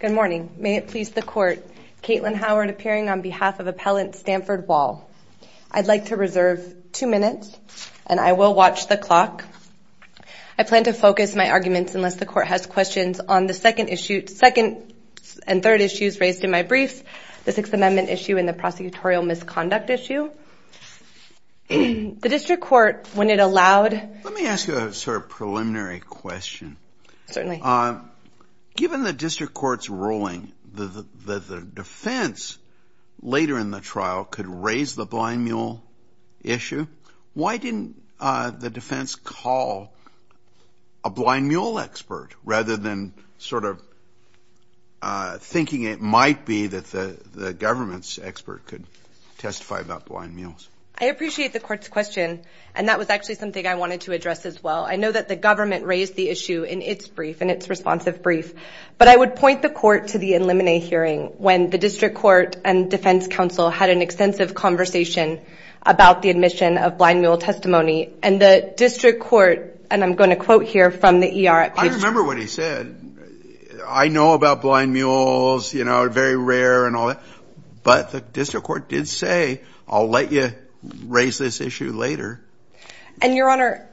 Good morning. May it please the Court, Caitlin Howard appearing on behalf of Appellant Stanford Wall. I'd like to reserve two minutes, and I will watch the clock. I plan to focus my arguments, unless the Court has questions, on the second and third issues raised in my brief, the Sixth Amendment issue and the prosecutorial misconduct issue. The District Court, when it allowed... Let me ask you a sort of preliminary question. Given the District Court's ruling that the defense, later in the trial, could raise the blind mule issue, why didn't the defense call a blind mule expert, rather than sort of thinking it might be that the government's expert could testify about blind mules? I appreciate the Court's question, and that was actually something I wanted to address as well. I know that the government raised the issue in its brief, in its responsive brief, but I would point the Court to the Illuminate hearing, when the District Court and defense counsel had an extensive conversation about the admission of blind mule testimony, and the District Court, and I'm going to quote here from the ER... I remember what he said. I know about blind mules, you know, they're very rare and all that, but the District Court did say, I'll let you raise this issue later. Your Honor,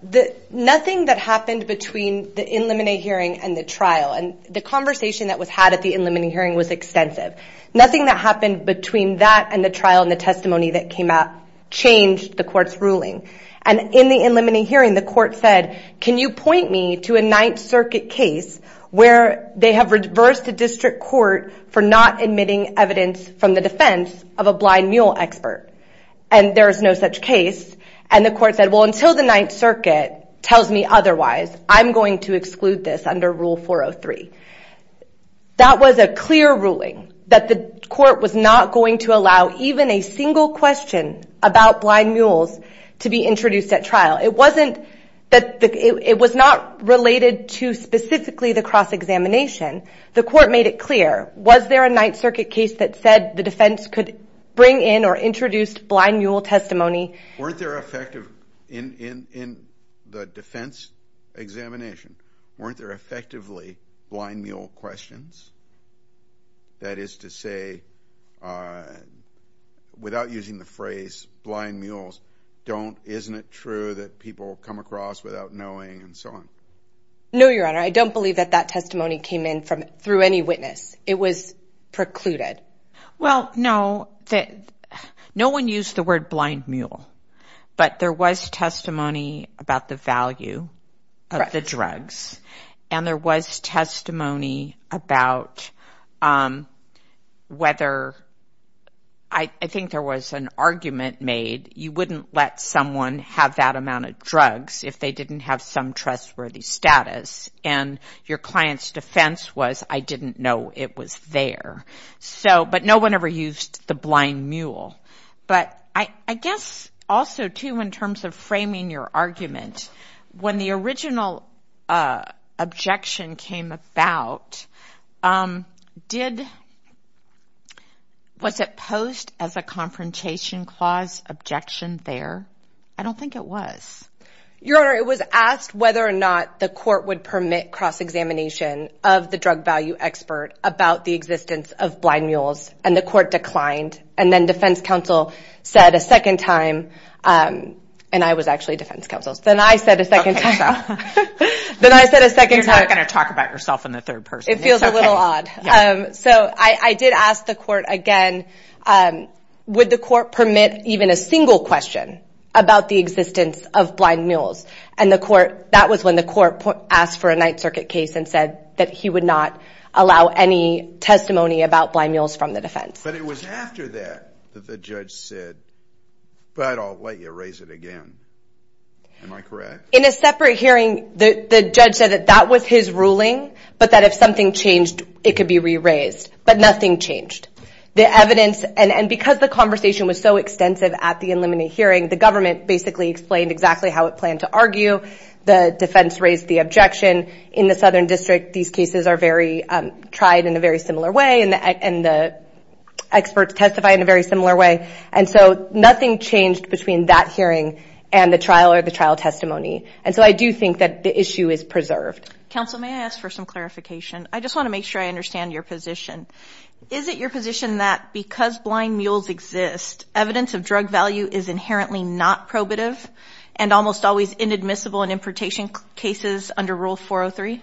nothing that happened between the Illuminate hearing and the trial, and the conversation that was had at the Illuminate hearing was extensive. Nothing that happened between that and the trial and the testimony that came out changed the Court's ruling. And in the Illuminate hearing, the Court said, can you point me to a Ninth Circuit case where they have reversed the District Court for not admitting evidence from the defense of a blind mule expert? And there is no such case, and the Court said, well, until the Ninth Circuit tells me otherwise, I'm going to exclude this under Rule 403. That was a clear ruling that the Court was not going to allow even a single question about blind mules to be introduced at trial. It was not related to specifically the cross-examination. The Court made it clear, was there a Ninth Circuit case that said the defense could bring in or introduce blind mule testimony? Weren't there effective, in the defense examination, weren't there effectively blind mule questions? That is to say, without using the phrase blind mules, don't, isn't it true that people come across without knowing and so on? No, Your Honor, I don't believe that that testimony came in through any witness. It was precluded. Well, no, no one used the word blind mule, but there was testimony about the value of the drugs, and there was testimony about whether, I think there was an argument made, you wouldn't let someone have that amount of drugs if they didn't have some trustworthy status, and your client's defense was, I didn't know it was there. So, but no one ever used the blind mule, but I guess also, too, in terms of framing your argument, when the original objection came about, did, was it posed as a confrontation clause objection there? I don't think it was. Your Honor, it was asked whether or not the court would permit cross-examination of the drug value expert about the existence of blind mules, and the court declined, and then defense counsel said a second time, and I was actually defense counsel, then I said a second time, then I said a second time. You're not going to talk about yourself in the third person. It feels a little odd. So I did ask the court again, would the court permit even a single question about the existence of blind mules, and the court, that was when the court asked for a Ninth Circuit case and said that he would not allow any testimony about blind mules from the defense. But it was after that that the judge said, but I'll let you raise it again. Am I correct? In a separate hearing, the judge said that that was his ruling, but that if something changed, it could be re-raised, but nothing changed. The evidence, and because the conversation was so extensive at the inlimited hearing, the government basically explained exactly how it planned to argue, the defense raised the objection. In the Southern District, these cases are tried in a very similar way, and the experts testify in a very similar way, and so nothing changed between that hearing and the trial or the trial testimony. And so I do think that the issue is preserved. Counsel, may I ask for some clarification? I just want to make sure I understand your position. Is it your position that because blind mules exist, evidence of drug value is inherently not probative, and almost always inadmissible in importation cases under Rule 403?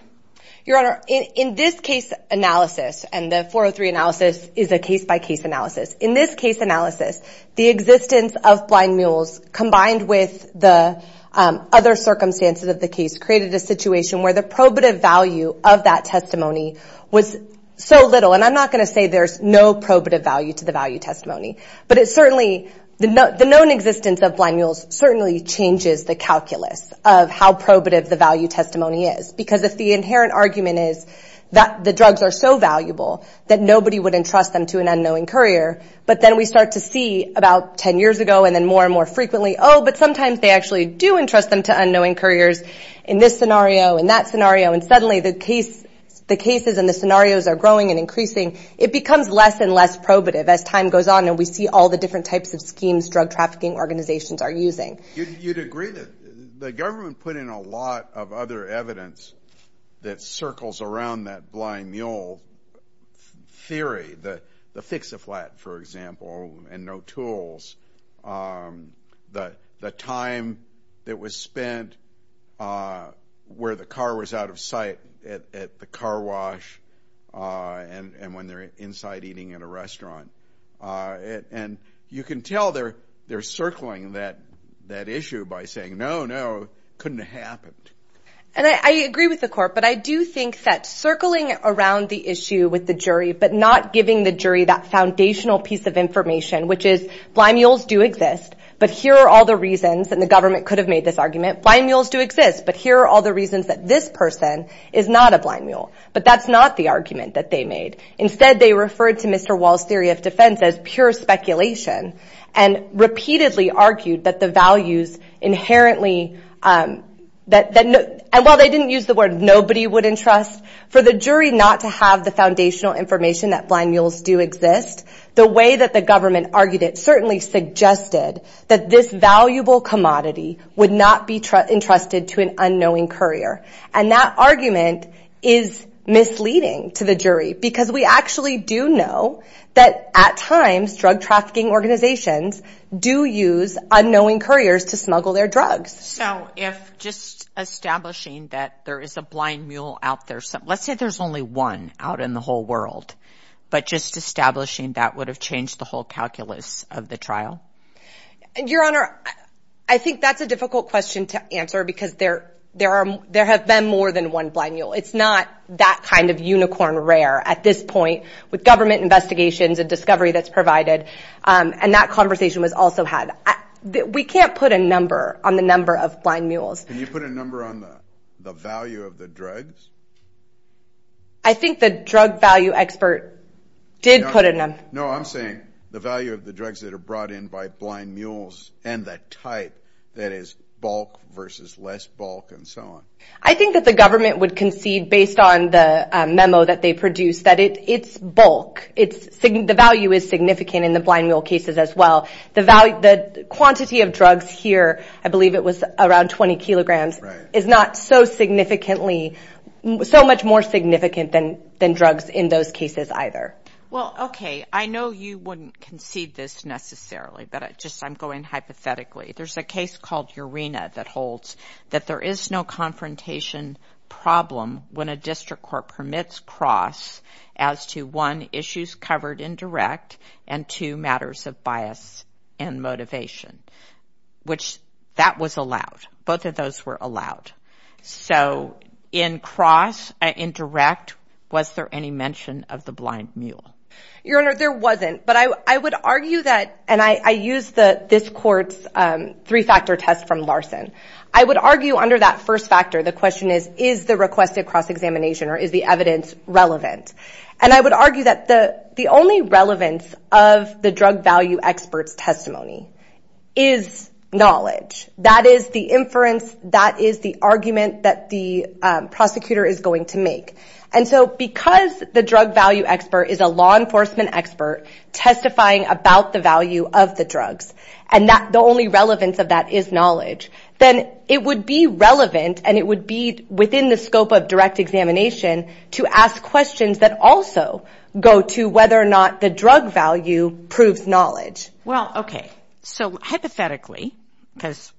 Your Honor, in this case analysis, and the 403 analysis is a case-by-case analysis. In this case analysis, the existence of blind mules combined with the other circumstances of the case created a situation where the probative value of that testimony was so little. And I'm not going to say there's no probative value to the value testimony, but it certainly, the known existence of blind mules certainly changes the calculus of how probative the value testimony is. Because if the inherent argument is that the drugs are so valuable that nobody would entrust them to an unknowing courier, but then we start to see about ten years ago and then more and more frequently, oh, but sometimes they actually do entrust them to unknowing couriers in this scenario, in that scenario, and suddenly the cases and the scenarios are growing and increasing. It becomes less and less probative as time goes on, and we see all the different types of schemes drug trafficking organizations are using. You'd agree that the government put in a lot of other evidence that circles around that blind mule theory. The fix-a-flat, for example, and no tools. The time that was spent where the car was out of sight at the car wash and when they're inside eating at a restaurant. And you can tell they're circling that issue by saying, no, no, couldn't have happened. And I agree with the court, but I do think that circling around the issue with the jury but not giving the jury that foundational piece of information, which is blind mules do exist, but here are all the reasons, and the government could have made this argument, blind mules do exist, but here are all the reasons that this person is not a blind mule, but that's not the argument that they made. Instead, they referred to Mr. Wall's theory of defense as pure speculation and repeatedly argued that the values inherently, and while they didn't use the word nobody would entrust, for the jury not to have the foundational information that blind mules do exist, the way that the government argued it certainly suggested that this valuable commodity would not be entrusted to an unknowing courier. And that argument is misleading to the jury because we actually do know that at times drug trafficking organizations do use unknowing couriers to smuggle their drugs. So if just establishing that there is a blind mule out there, let's say there's only one out in the whole world, but just establishing that would have changed the whole calculus of the trial? Your Honor, I think that's a difficult question to answer because there have been more than one blind mule. It's not that kind of unicorn rare at this point with government investigations and discovery that's provided, and that conversation was also had. We can't put a number on the number of blind mules. Can you put a number on the value of the drugs? I think the drug value expert did put a number. No, I'm saying the value of the drugs that are brought in by blind mules and the type, that is, bulk versus less bulk and so on. I think that the government would concede, based on the memo that they produced, that it's bulk. The value is significant in the blind mule cases as well. The quantity of drugs here, I believe it was around 20 kilograms, is not so significantly, so much more significant than drugs in those cases either. Well, okay, I know you wouldn't concede this necessarily, but I'm just going hypothetically. There's a case called Urena that holds that there is no confrontation problem when a district court permits CROSS as to, one, issues covered indirect, and two, matters of bias and motivation, which that was allowed. Both of those were allowed. Your Honor, there wasn't, but I would argue that, and I used this court's three-factor test from Larson. I would argue under that first factor, the question is, is the requested CROSS examination or is the evidence relevant? And I would argue that the only relevance of the drug value expert's testimony is knowledge. That is the inference, that is the argument that the prosecutor is going to make. And so because the drug value expert is a law enforcement expert testifying about the value of the drugs, and the only relevance of that is knowledge, then it would be relevant and it would be within the scope of direct examination to ask questions that also go to whether or not the drug value proves knowledge. Well, okay, so hypothetically, because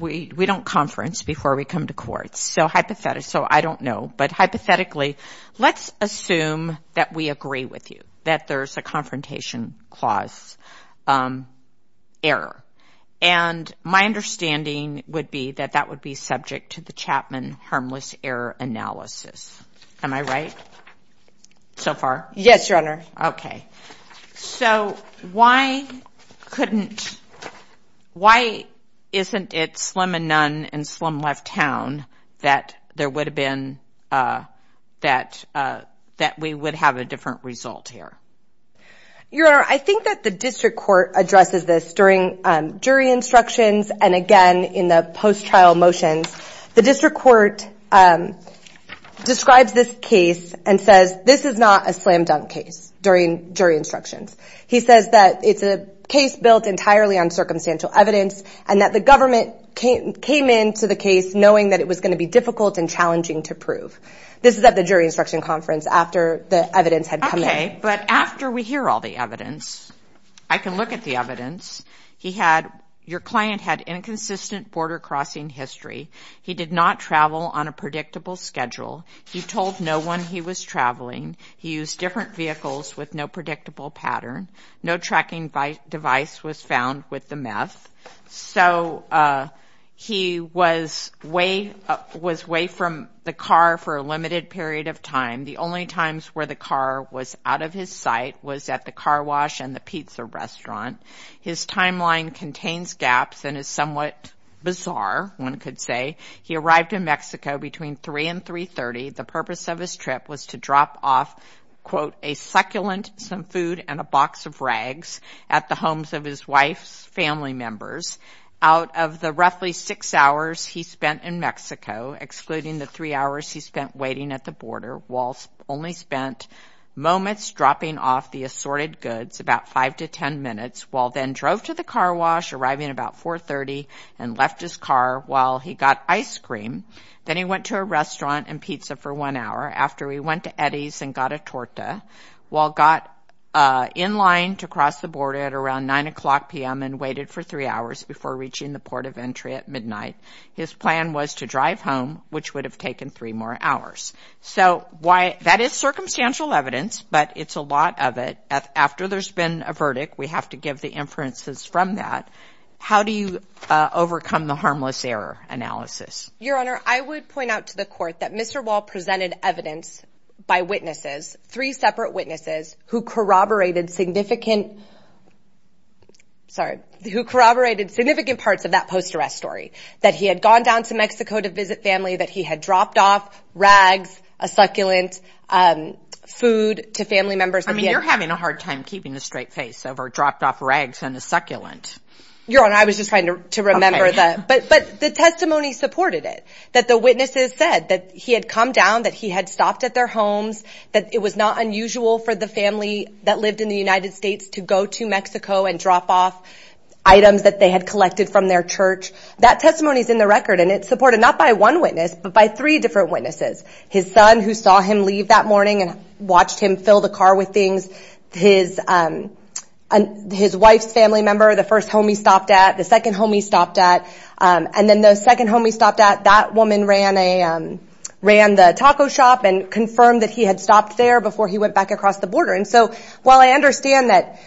we don't conference before we come to court, so I don't know. But hypothetically, let's assume that we agree with you, that there's a confrontation clause error. And my understanding would be that that would be subject to the Chapman harmless error analysis. Am I right so far? Yes, Your Honor. Okay, so why couldn't, why isn't it slim and none and slim left town that there would have been, that we would have a different result here? Your Honor, I think that the district court addresses this during jury instructions and again in the post-trial motions. The district court describes this case and says this is not a slam dunk case during jury instructions. He says that it's a case built entirely on circumstantial evidence and that the government came in to the case knowing that it was going to be difficult and challenging to prove. This is at the jury instruction conference after the evidence had come in. Okay, but after we hear all the evidence, I can look at the evidence. He had, your client had inconsistent border crossing history. He did not travel on a predictable schedule. He told no one he was traveling. He used different vehicles with no predictable pattern. No tracking device was found with the meth. So he was way from the car for a limited period of time. The only times where the car was out of his sight was at the car wash and the pizza restaurant. His timeline contains gaps and is somewhat bizarre, one could say. He arrived in Mexico between 3 and 3.30. The purpose of his trip was to drop off, quote, a succulent, some food, and a box of rags at the homes of his wife's family members. Out of the roughly six hours he spent in Mexico, excluding the three hours he spent waiting at the border, only spent moments dropping off the assorted goods, about five to ten minutes, while then drove to the car wash arriving about 4.30 and left his car while he got ice cream. Then he went to a restaurant and pizza for one hour after he went to Eddie's and got a torta while got in line to cross the border at around 9 o'clock p.m. and waited for three hours before reaching the port of entry at midnight. His plan was to drive home, which would have taken three more hours. So that is circumstantial evidence, but it's a lot of it. After there's been a verdict, we have to give the inferences from that. How do you overcome the harmless error analysis? Your Honor, I would point out to the court that Mr. Wall presented evidence by witnesses, three separate witnesses, who corroborated significant parts of that post-arrest story, that he had gone down to Mexico to visit family, that he had dropped off rags, a succulent, food to family members. I mean, you're having a hard time keeping a straight face over dropped off rags and a succulent. Your Honor, I was just trying to remember that. But the testimony supported it, that the witnesses said that he had come down, that he had stopped at their homes, that it was not unusual for the family that lived in the United States to go to Mexico and drop off items that they had collected from their church. That testimony is in the record, and it's supported not by one witness, but by three different witnesses. His son, who saw him leave that morning and watched him fill the car with things, his wife's family member, the first home he stopped at, the second home he stopped at, and then the second home he stopped at, that woman ran the taco shop and confirmed that he had stopped there before he went back across the border. While I understand that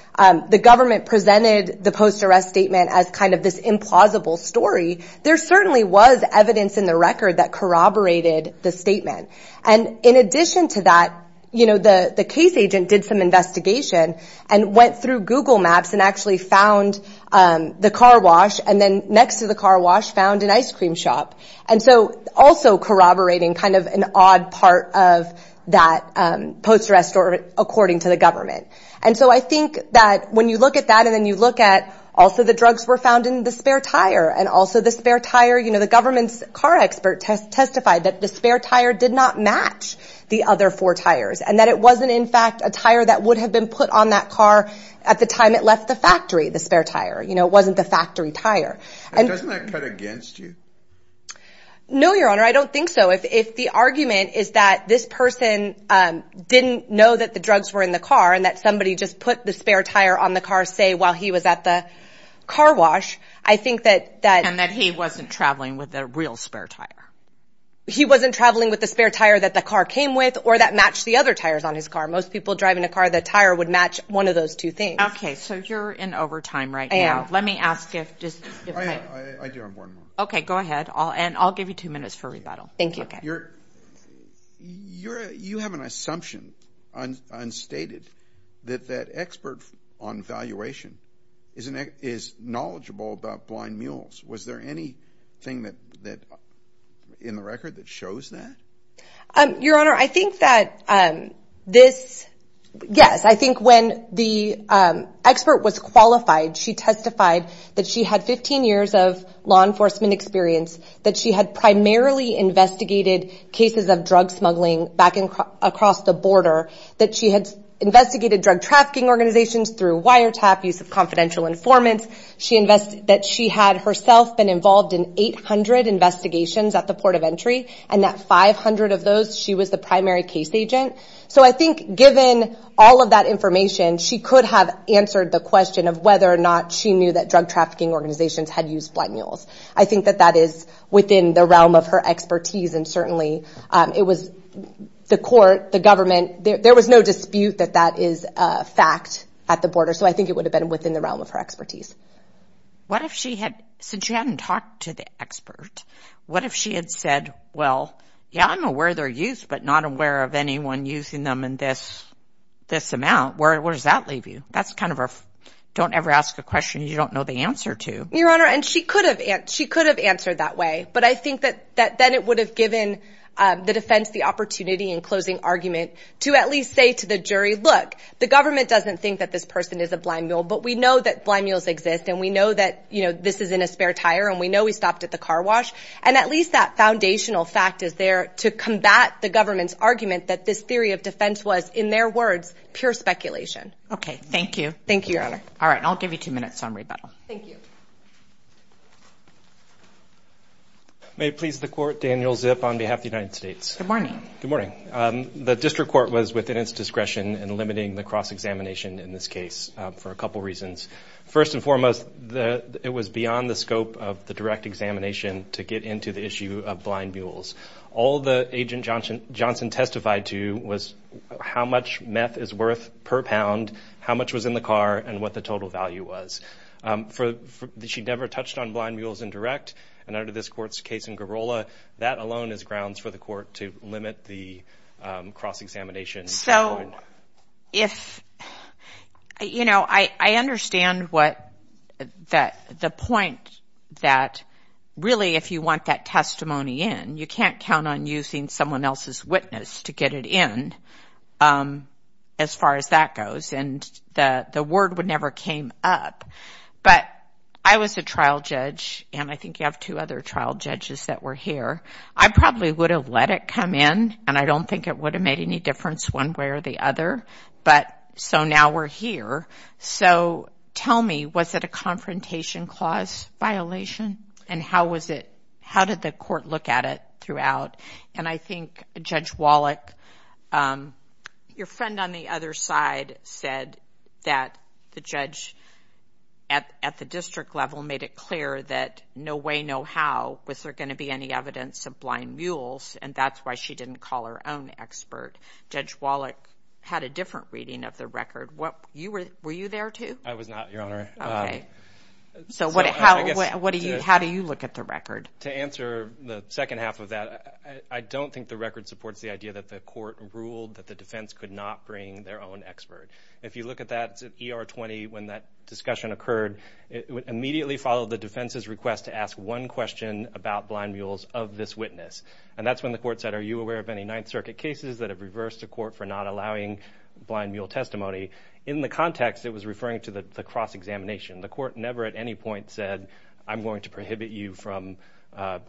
the government presented the post-arrest statement as kind of this implausible story, there certainly was evidence in the record that corroborated the statement. And in addition to that, the case agent did some investigation and went through Google Maps and actually found the car wash, and then next to the car wash found an ice cream shop. And so also corroborating kind of an odd part of that post-arrest story, according to the government. And so I think that when you look at that, and then you look at also the drugs were found in the spare tire, and also the spare tire, the government's car expert testified that the spare tire did not match the other four tires, and that it wasn't in fact a tire that would have been put on that car at the time it left the factory, the spare tire. It wasn't the factory tire. Doesn't that cut against you? No, Your Honor, I don't think so. If the argument is that this person didn't know that the drugs were in the car, and that somebody just put the spare tire on the car, say, while he was at the car wash, I think that... And that he wasn't traveling with the real spare tire. He wasn't traveling with the spare tire that the car came with or that matched the other tires on his car. Most people driving a car, the tire would match one of those two things. Okay, so you're in overtime right now. Let me ask if... I do have one more. Okay, go ahead, and I'll give you two minutes for rebuttal. Thank you. You have an assumption, unstated, that that expert on valuation is knowledgeable about blind mules. Was there anything in the record that shows that? Your Honor, I think that this... Yes, I think when the expert was qualified, she testified that she had 15 years of law enforcement experience, that she had primarily investigated cases of drug smuggling back across the border, that she had investigated drug trafficking organizations through wiretap use of confidential informants, that she had herself been involved in 800 investigations at the port of entry, and that 500 of those, she was the primary case agent. So I think given all of that information, she could have answered the question of whether or not she knew that drug trafficking organizations had used blind mules. I think that that is within the realm of her expertise, and certainly it was the court, the government, there was no dispute that that is a fact at the border. So I think it would have been within the realm of her expertise. What if she had... since she hadn't talked to the expert, what if she had said, well, yeah, I'm aware they're used, but not aware of anyone using them in this amount. Where does that leave you? That's kind of a don't ever ask a question you don't know the answer to. Your Honor, and she could have answered that way, but I think that then it would have given the defense the opportunity in closing argument to at least say to the jury, look, the government doesn't think that this person is a blind mule, but we know that blind mules exist, and we know that this is in a spare tire, and we know he stopped at the car wash, and at least that foundational fact is there to combat the government's argument that this theory of defense was, in their words, pure speculation. Okay, thank you. Thank you, Your Honor. All right, I'll give you two minutes on rebuttal. Thank you. May it please the Court, Daniel Zip on behalf of the United States. Good morning. Good morning. The District Court was within its discretion in limiting the cross-examination in this case for a couple reasons. First and foremost, it was beyond the scope of the direct examination to get into the issue of blind mules. All that Agent Johnson testified to was how much meth is worth per pound, how much was in the car, and what the total value was. She never touched on blind mules in direct, and under this Court's case in Garola, that alone is grounds for the Court to limit the cross-examination. So, you know, I understand the point that really if you want that testimony in, you can't count on using someone else's witness to get it in as far as that goes, and the word would never came up. But I was a trial judge, and I think you have two other trial judges that were here. I probably would have let it come in, and I don't think it would have made any difference one way or the other, but so now we're here. So tell me, was it a confrontation clause violation, and how did the Court look at it throughout? And I think Judge Wallach, your friend on the other side said that the judge at the district level made it clear that no way, no how was there going to be any evidence of blind mules, and that's why she didn't call her own expert. Judge Wallach had a different reading of the record. Were you there, too? I was not, Your Honor. Okay. So how do you look at the record? To answer the second half of that, I don't think the record supports the idea that the Court ruled that the defense could not bring their own expert. If you look at that ER-20, when that discussion occurred, it immediately followed the defense's request to ask one question about blind mules of this witness, and that's when the Court said, Are you aware of any Ninth Circuit cases that have reversed the Court for not allowing blind mule testimony? In the context, it was referring to the cross-examination. The Court never at any point said, I'm going to prohibit you from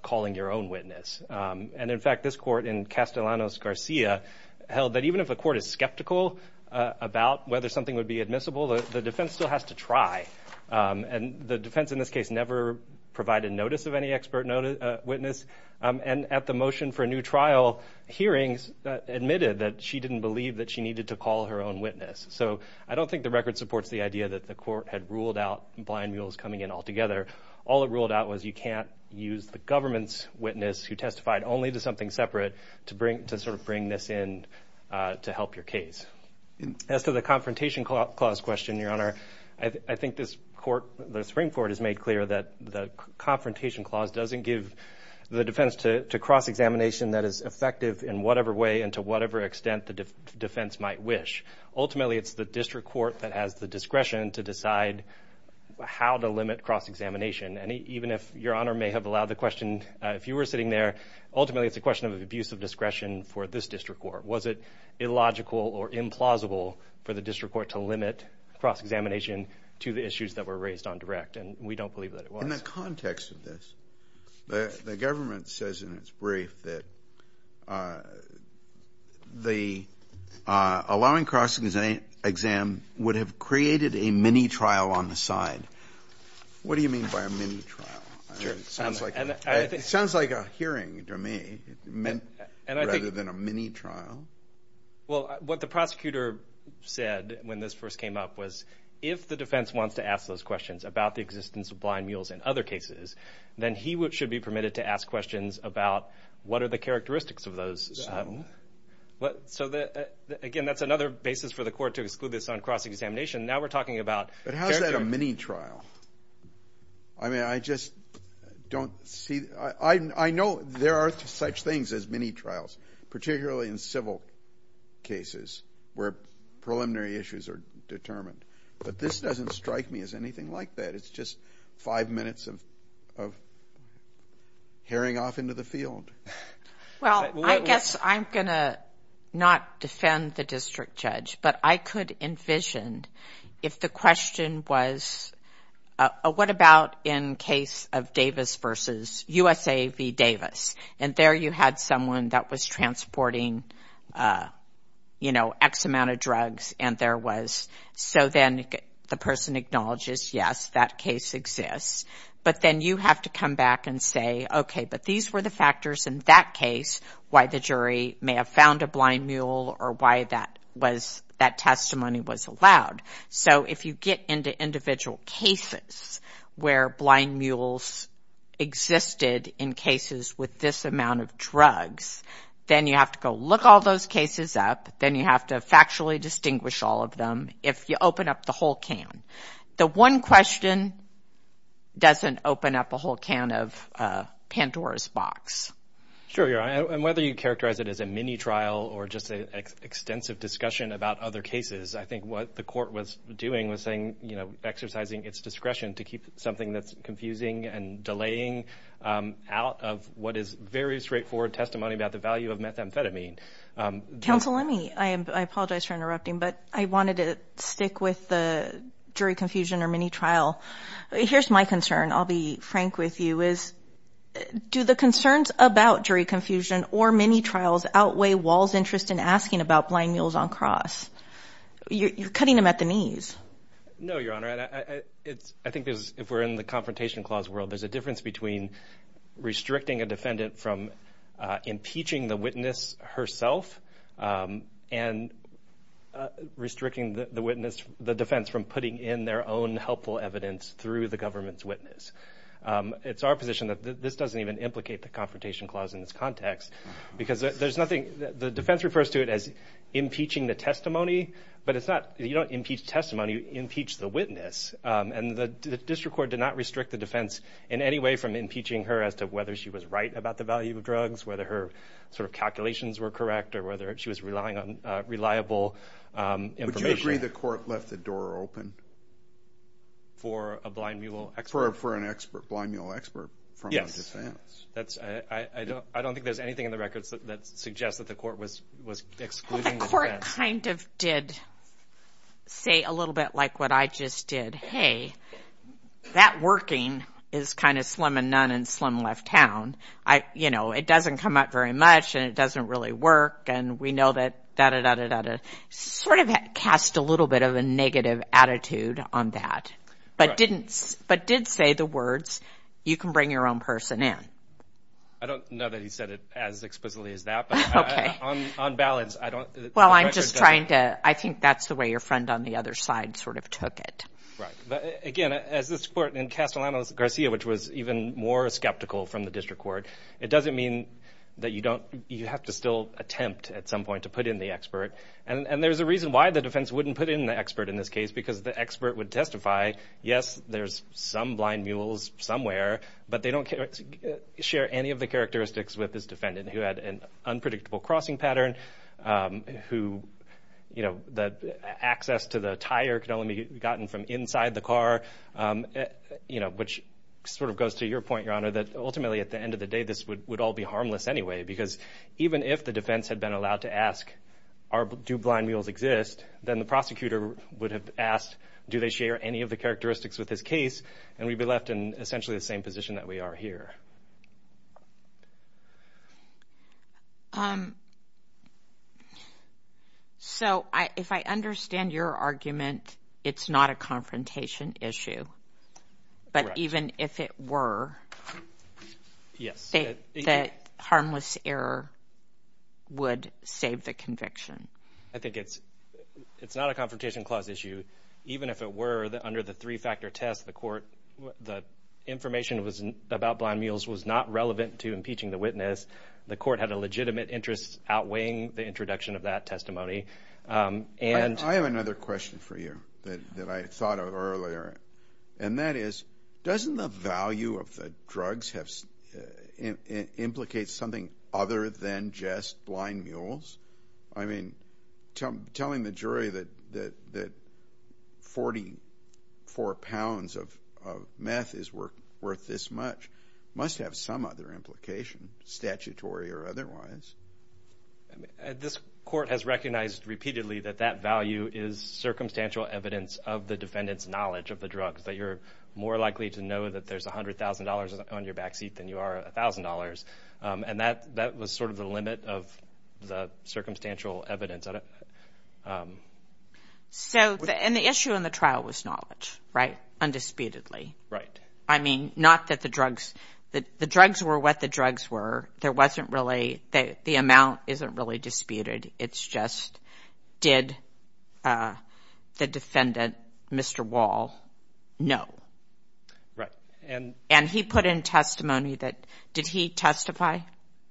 calling your own witness. And, in fact, this Court in Castellanos-Garcia held that even if a court is skeptical about whether something would be admissible, the defense still has to try. And the defense in this case never provided notice of any expert witness. And at the motion for a new trial, hearings admitted that she didn't believe that she needed to call her own witness. So I don't think the record supports the idea that the Court had ruled out blind mules coming in altogether. All it ruled out was you can't use the government's witness who testified only to something separate to sort of bring this in to help your case. As to the confrontation clause question, Your Honor, I think this Court, the Supreme Court, has made clear that the confrontation clause doesn't give the defense to cross-examination that is effective in whatever way and to whatever extent the defense might wish. Ultimately, it's the district court that has the discretion to decide how to limit cross-examination. And even if Your Honor may have allowed the question, if you were sitting there, ultimately it's a question of abuse of discretion for this district court. Was it illogical or implausible for the district court to limit cross-examination to the issues that were raised on direct? And we don't believe that it was. In the context of this, the government says in its brief that the allowing cross-exam would have created a mini-trial on the side. What do you mean by a mini-trial? It sounds like a hearing to me rather than a mini-trial. Well, what the prosecutor said when this first came up was, if the defense wants to ask those questions about the existence of blind mules in other cases, then he should be permitted to ask questions about what are the characteristics of those. So again, that's another basis for the court to exclude this on cross-examination. Now we're talking about characters. But how is that a mini-trial? I mean, I just don't see. I know there are such things as mini-trials, particularly in civil cases where preliminary issues are determined. But this doesn't strike me as anything like that. It's just five minutes of herring off into the field. Well, I guess I'm going to not defend the district judge, but I could envision if the question was, what about in case of Davis v. USA v. Davis? And there you had someone that was transporting, you know, X amount of drugs, and there was, so then the person acknowledges, yes, that case exists. But then you have to come back and say, okay, but these were the factors in that case why the jury may have found a blind mule or why that testimony was allowed. So if you get into individual cases where blind mules existed in cases with this amount of drugs, then you have to go look all those cases up, then you have to factually distinguish all of them if you open up the whole can. The one question doesn't open up a whole can of Pandora's box. Sure, and whether you characterize it as a mini-trial or just an extensive discussion about other cases, I think what the court was doing was saying, you know, exercising its discretion to keep something that's confusing and delaying out of what is very straightforward testimony about the value of methamphetamine. Counsel, let me, I apologize for interrupting, but I wanted to stick with the jury confusion or mini-trial. Here's my concern. I'll be frank with you is do the concerns about jury confusion or mini-trials outweigh Wahl's interest in asking about blind mules on cross? You're cutting them at the knees. No, Your Honor. I think if we're in the confrontation clause world, there's a difference between restricting a defendant from impeaching the witness herself and restricting the defense from putting in their own helpful evidence through the government's witness. It's our position that this doesn't even implicate the confrontation clause in this context because there's nothing, the defense refers to it as impeaching the testimony, but it's not, you don't impeach testimony, you impeach the witness, and the district court did not restrict the defense in any way from impeaching her as to whether she was right about the value of drugs, whether her sort of calculations were correct, or whether she was relying on reliable information. Would you agree the court left the door open? For a blind mule expert? For an expert, blind mule expert from the defense. I don't think there's anything in the records that suggests that the court was excluding the defense. Well, the court kind of did say a little bit like what I just did, hey, that working is kind of slim and none and slim left town. You know, it doesn't come up very much, and it doesn't really work, and we know that da-da-da-da-da-da, sort of cast a little bit of a negative attitude on that, but did say the words, you can bring your own person in. I don't know that he said it as explicitly as that, but on balance, I don't. Well, I'm just trying to, I think that's the way your friend on the other side sort of took it. Right, but again, as this court in Castellanos Garcia, which was even more skeptical from the district court, it doesn't mean that you don't, you have to still attempt at some point to put in the expert, and there's a reason why the defense wouldn't put in the expert in this case, because the expert would testify, yes, there's some blind mules somewhere, but they don't share any of the characteristics with his defendant, who had an unpredictable crossing pattern, who, you know, that access to the tire could only be gotten from inside the car, you know, which sort of goes to your point, Your Honor, that ultimately at the end of the day, this would all be harmless anyway, because even if the defense had been allowed to ask, do blind mules exist, then the prosecutor would have asked, do they share any of the characteristics with this case, and we'd be left in essentially the same position that we are here. So if I understand your argument, it's not a confrontation issue, but even if it were, the harmless error would save the conviction. I think it's not a confrontation clause issue. Even if it were, under the three-factor test, the court, the information about blind mules was not relevant to impeaching the witness. The court had a legitimate interest outweighing the introduction of that testimony. I have another question for you that I thought of earlier, and that is doesn't the value of the drugs implicate something other than just blind mules? I mean, telling the jury that 44 pounds of meth is worth this much must have some other implication, statutory or otherwise. This court has recognized repeatedly that that value is circumstantial evidence of the defendant's knowledge of the drugs, that you're more likely to know that there's $100,000 on your back seat than you are $1,000, and that was sort of the limit of the circumstantial evidence. And the issue in the trial was knowledge, right, undisputedly. Right. I mean, not that the drugs – the drugs were what the drugs were. There wasn't really – the amount isn't really disputed. It's just did the defendant, Mr. Wall, know? Right. And he put in testimony that – did he testify?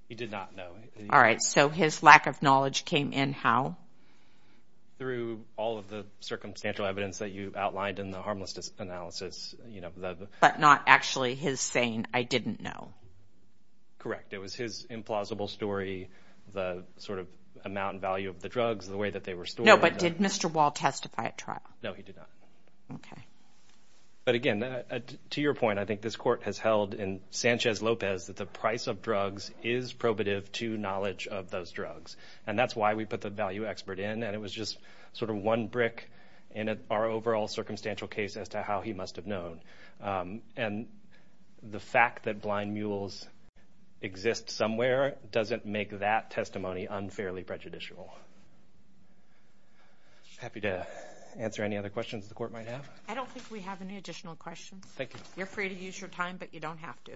He did not know. All right. So his lack of knowledge came in how? Through all of the circumstantial evidence that you outlined in the harmless analysis. But not actually his saying, I didn't know. Correct. It was his implausible story, the sort of amount and value of the drugs, the way that they were stored. No, but did Mr. Wall testify at trial? No, he did not. Okay. But again, to your point, I think this court has held in Sanchez-Lopez that the price of drugs is probative to knowledge of those drugs, and that's why we put the value expert in, and it was just sort of one brick in our overall circumstantial case as to how he must have known. And the fact that blind mules exist somewhere doesn't make that testimony unfairly prejudicial. Happy to answer any other questions the court might have. I don't think we have any additional questions. Thank you. You're free to use your time, but you don't have to.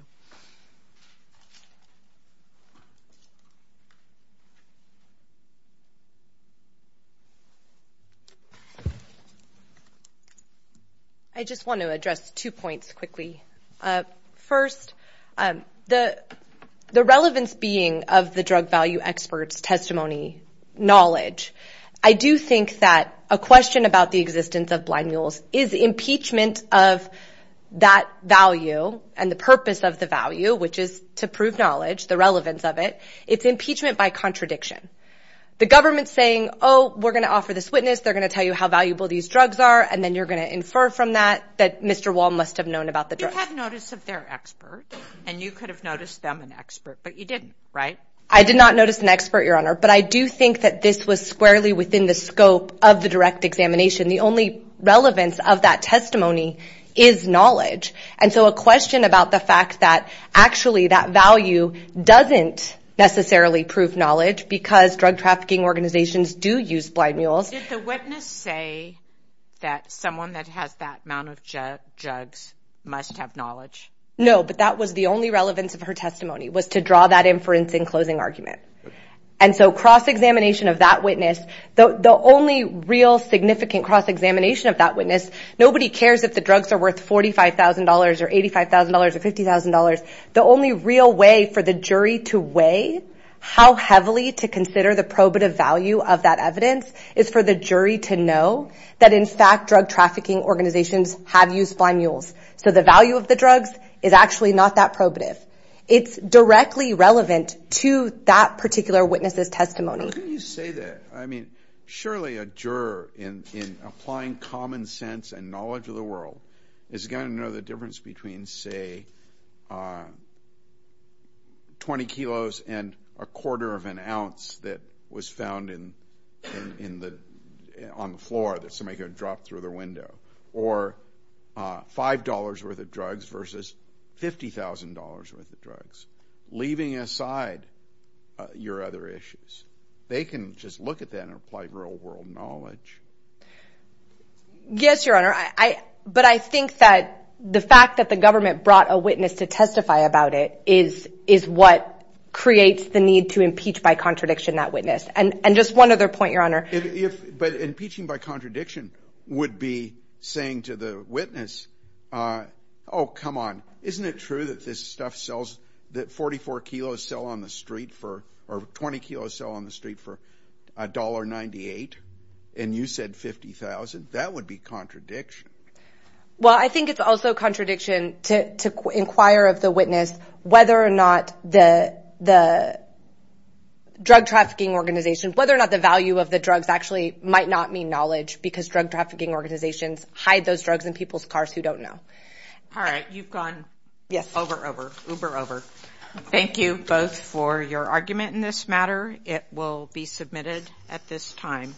I just want to address two points quickly. First, the relevance being of the drug value expert's testimony knowledge. I do think that a question about the existence of blind mules is impeachment of that value and the purpose of the value, which is to prove knowledge, the relevance of it. It's impeachment by contradiction. The government's saying, oh, we're going to offer this witness, they're going to tell you how valuable these drugs are, and then you're going to infer from that that Mr. Wall must have known about the drugs. You had notice of their expert, and you could have noticed them an expert, but you didn't, right? I did not notice an expert, Your Honor, but I do think that this was squarely within the scope of the direct examination. The only relevance of that testimony is knowledge. And so a question about the fact that actually that value doesn't necessarily prove knowledge because drug trafficking organizations do use blind mules. Did the witness say that someone that has that amount of drugs must have knowledge? No, but that was the only relevance of her testimony, was to draw that inference in closing argument. And so cross-examination of that witness, the only real significant cross-examination of that witness, nobody cares if the drugs are worth $45,000 or $85,000 or $50,000. The only real way for the jury to weigh how heavily to consider the probative value of that evidence is for the jury to know that in fact drug trafficking organizations have used blind mules. So the value of the drugs is actually not that probative. It's directly relevant to that particular witness's testimony. How can you say that? I mean, surely a juror in applying common sense and knowledge of the world is going to know the difference between, say, 20 kilos and a quarter of an ounce that was found on the floor that somebody had dropped through their window, or $5 worth of drugs versus $50,000 worth of drugs, leaving aside your other issues. They can just look at that and apply real-world knowledge. Yes, Your Honor, but I think that the fact that the government brought a witness to testify about it is what creates the need to impeach by contradiction that witness. And just one other point, Your Honor. But impeaching by contradiction would be saying to the witness, oh, come on, isn't it true that this stuff sells, that 44 kilos sell on the street for, or 20 kilos sell on the street for $1.98 and you said $50,000? That would be contradiction. Well, I think it's also contradiction to inquire of the witness whether or not the drug trafficking organization, whether or not the value of the drugs actually might not mean knowledge because drug trafficking organizations hide those drugs in people's cars who don't know. All right, you've gone over, over, uber over. Thank you both for your argument in this matter. It will be submitted at this time.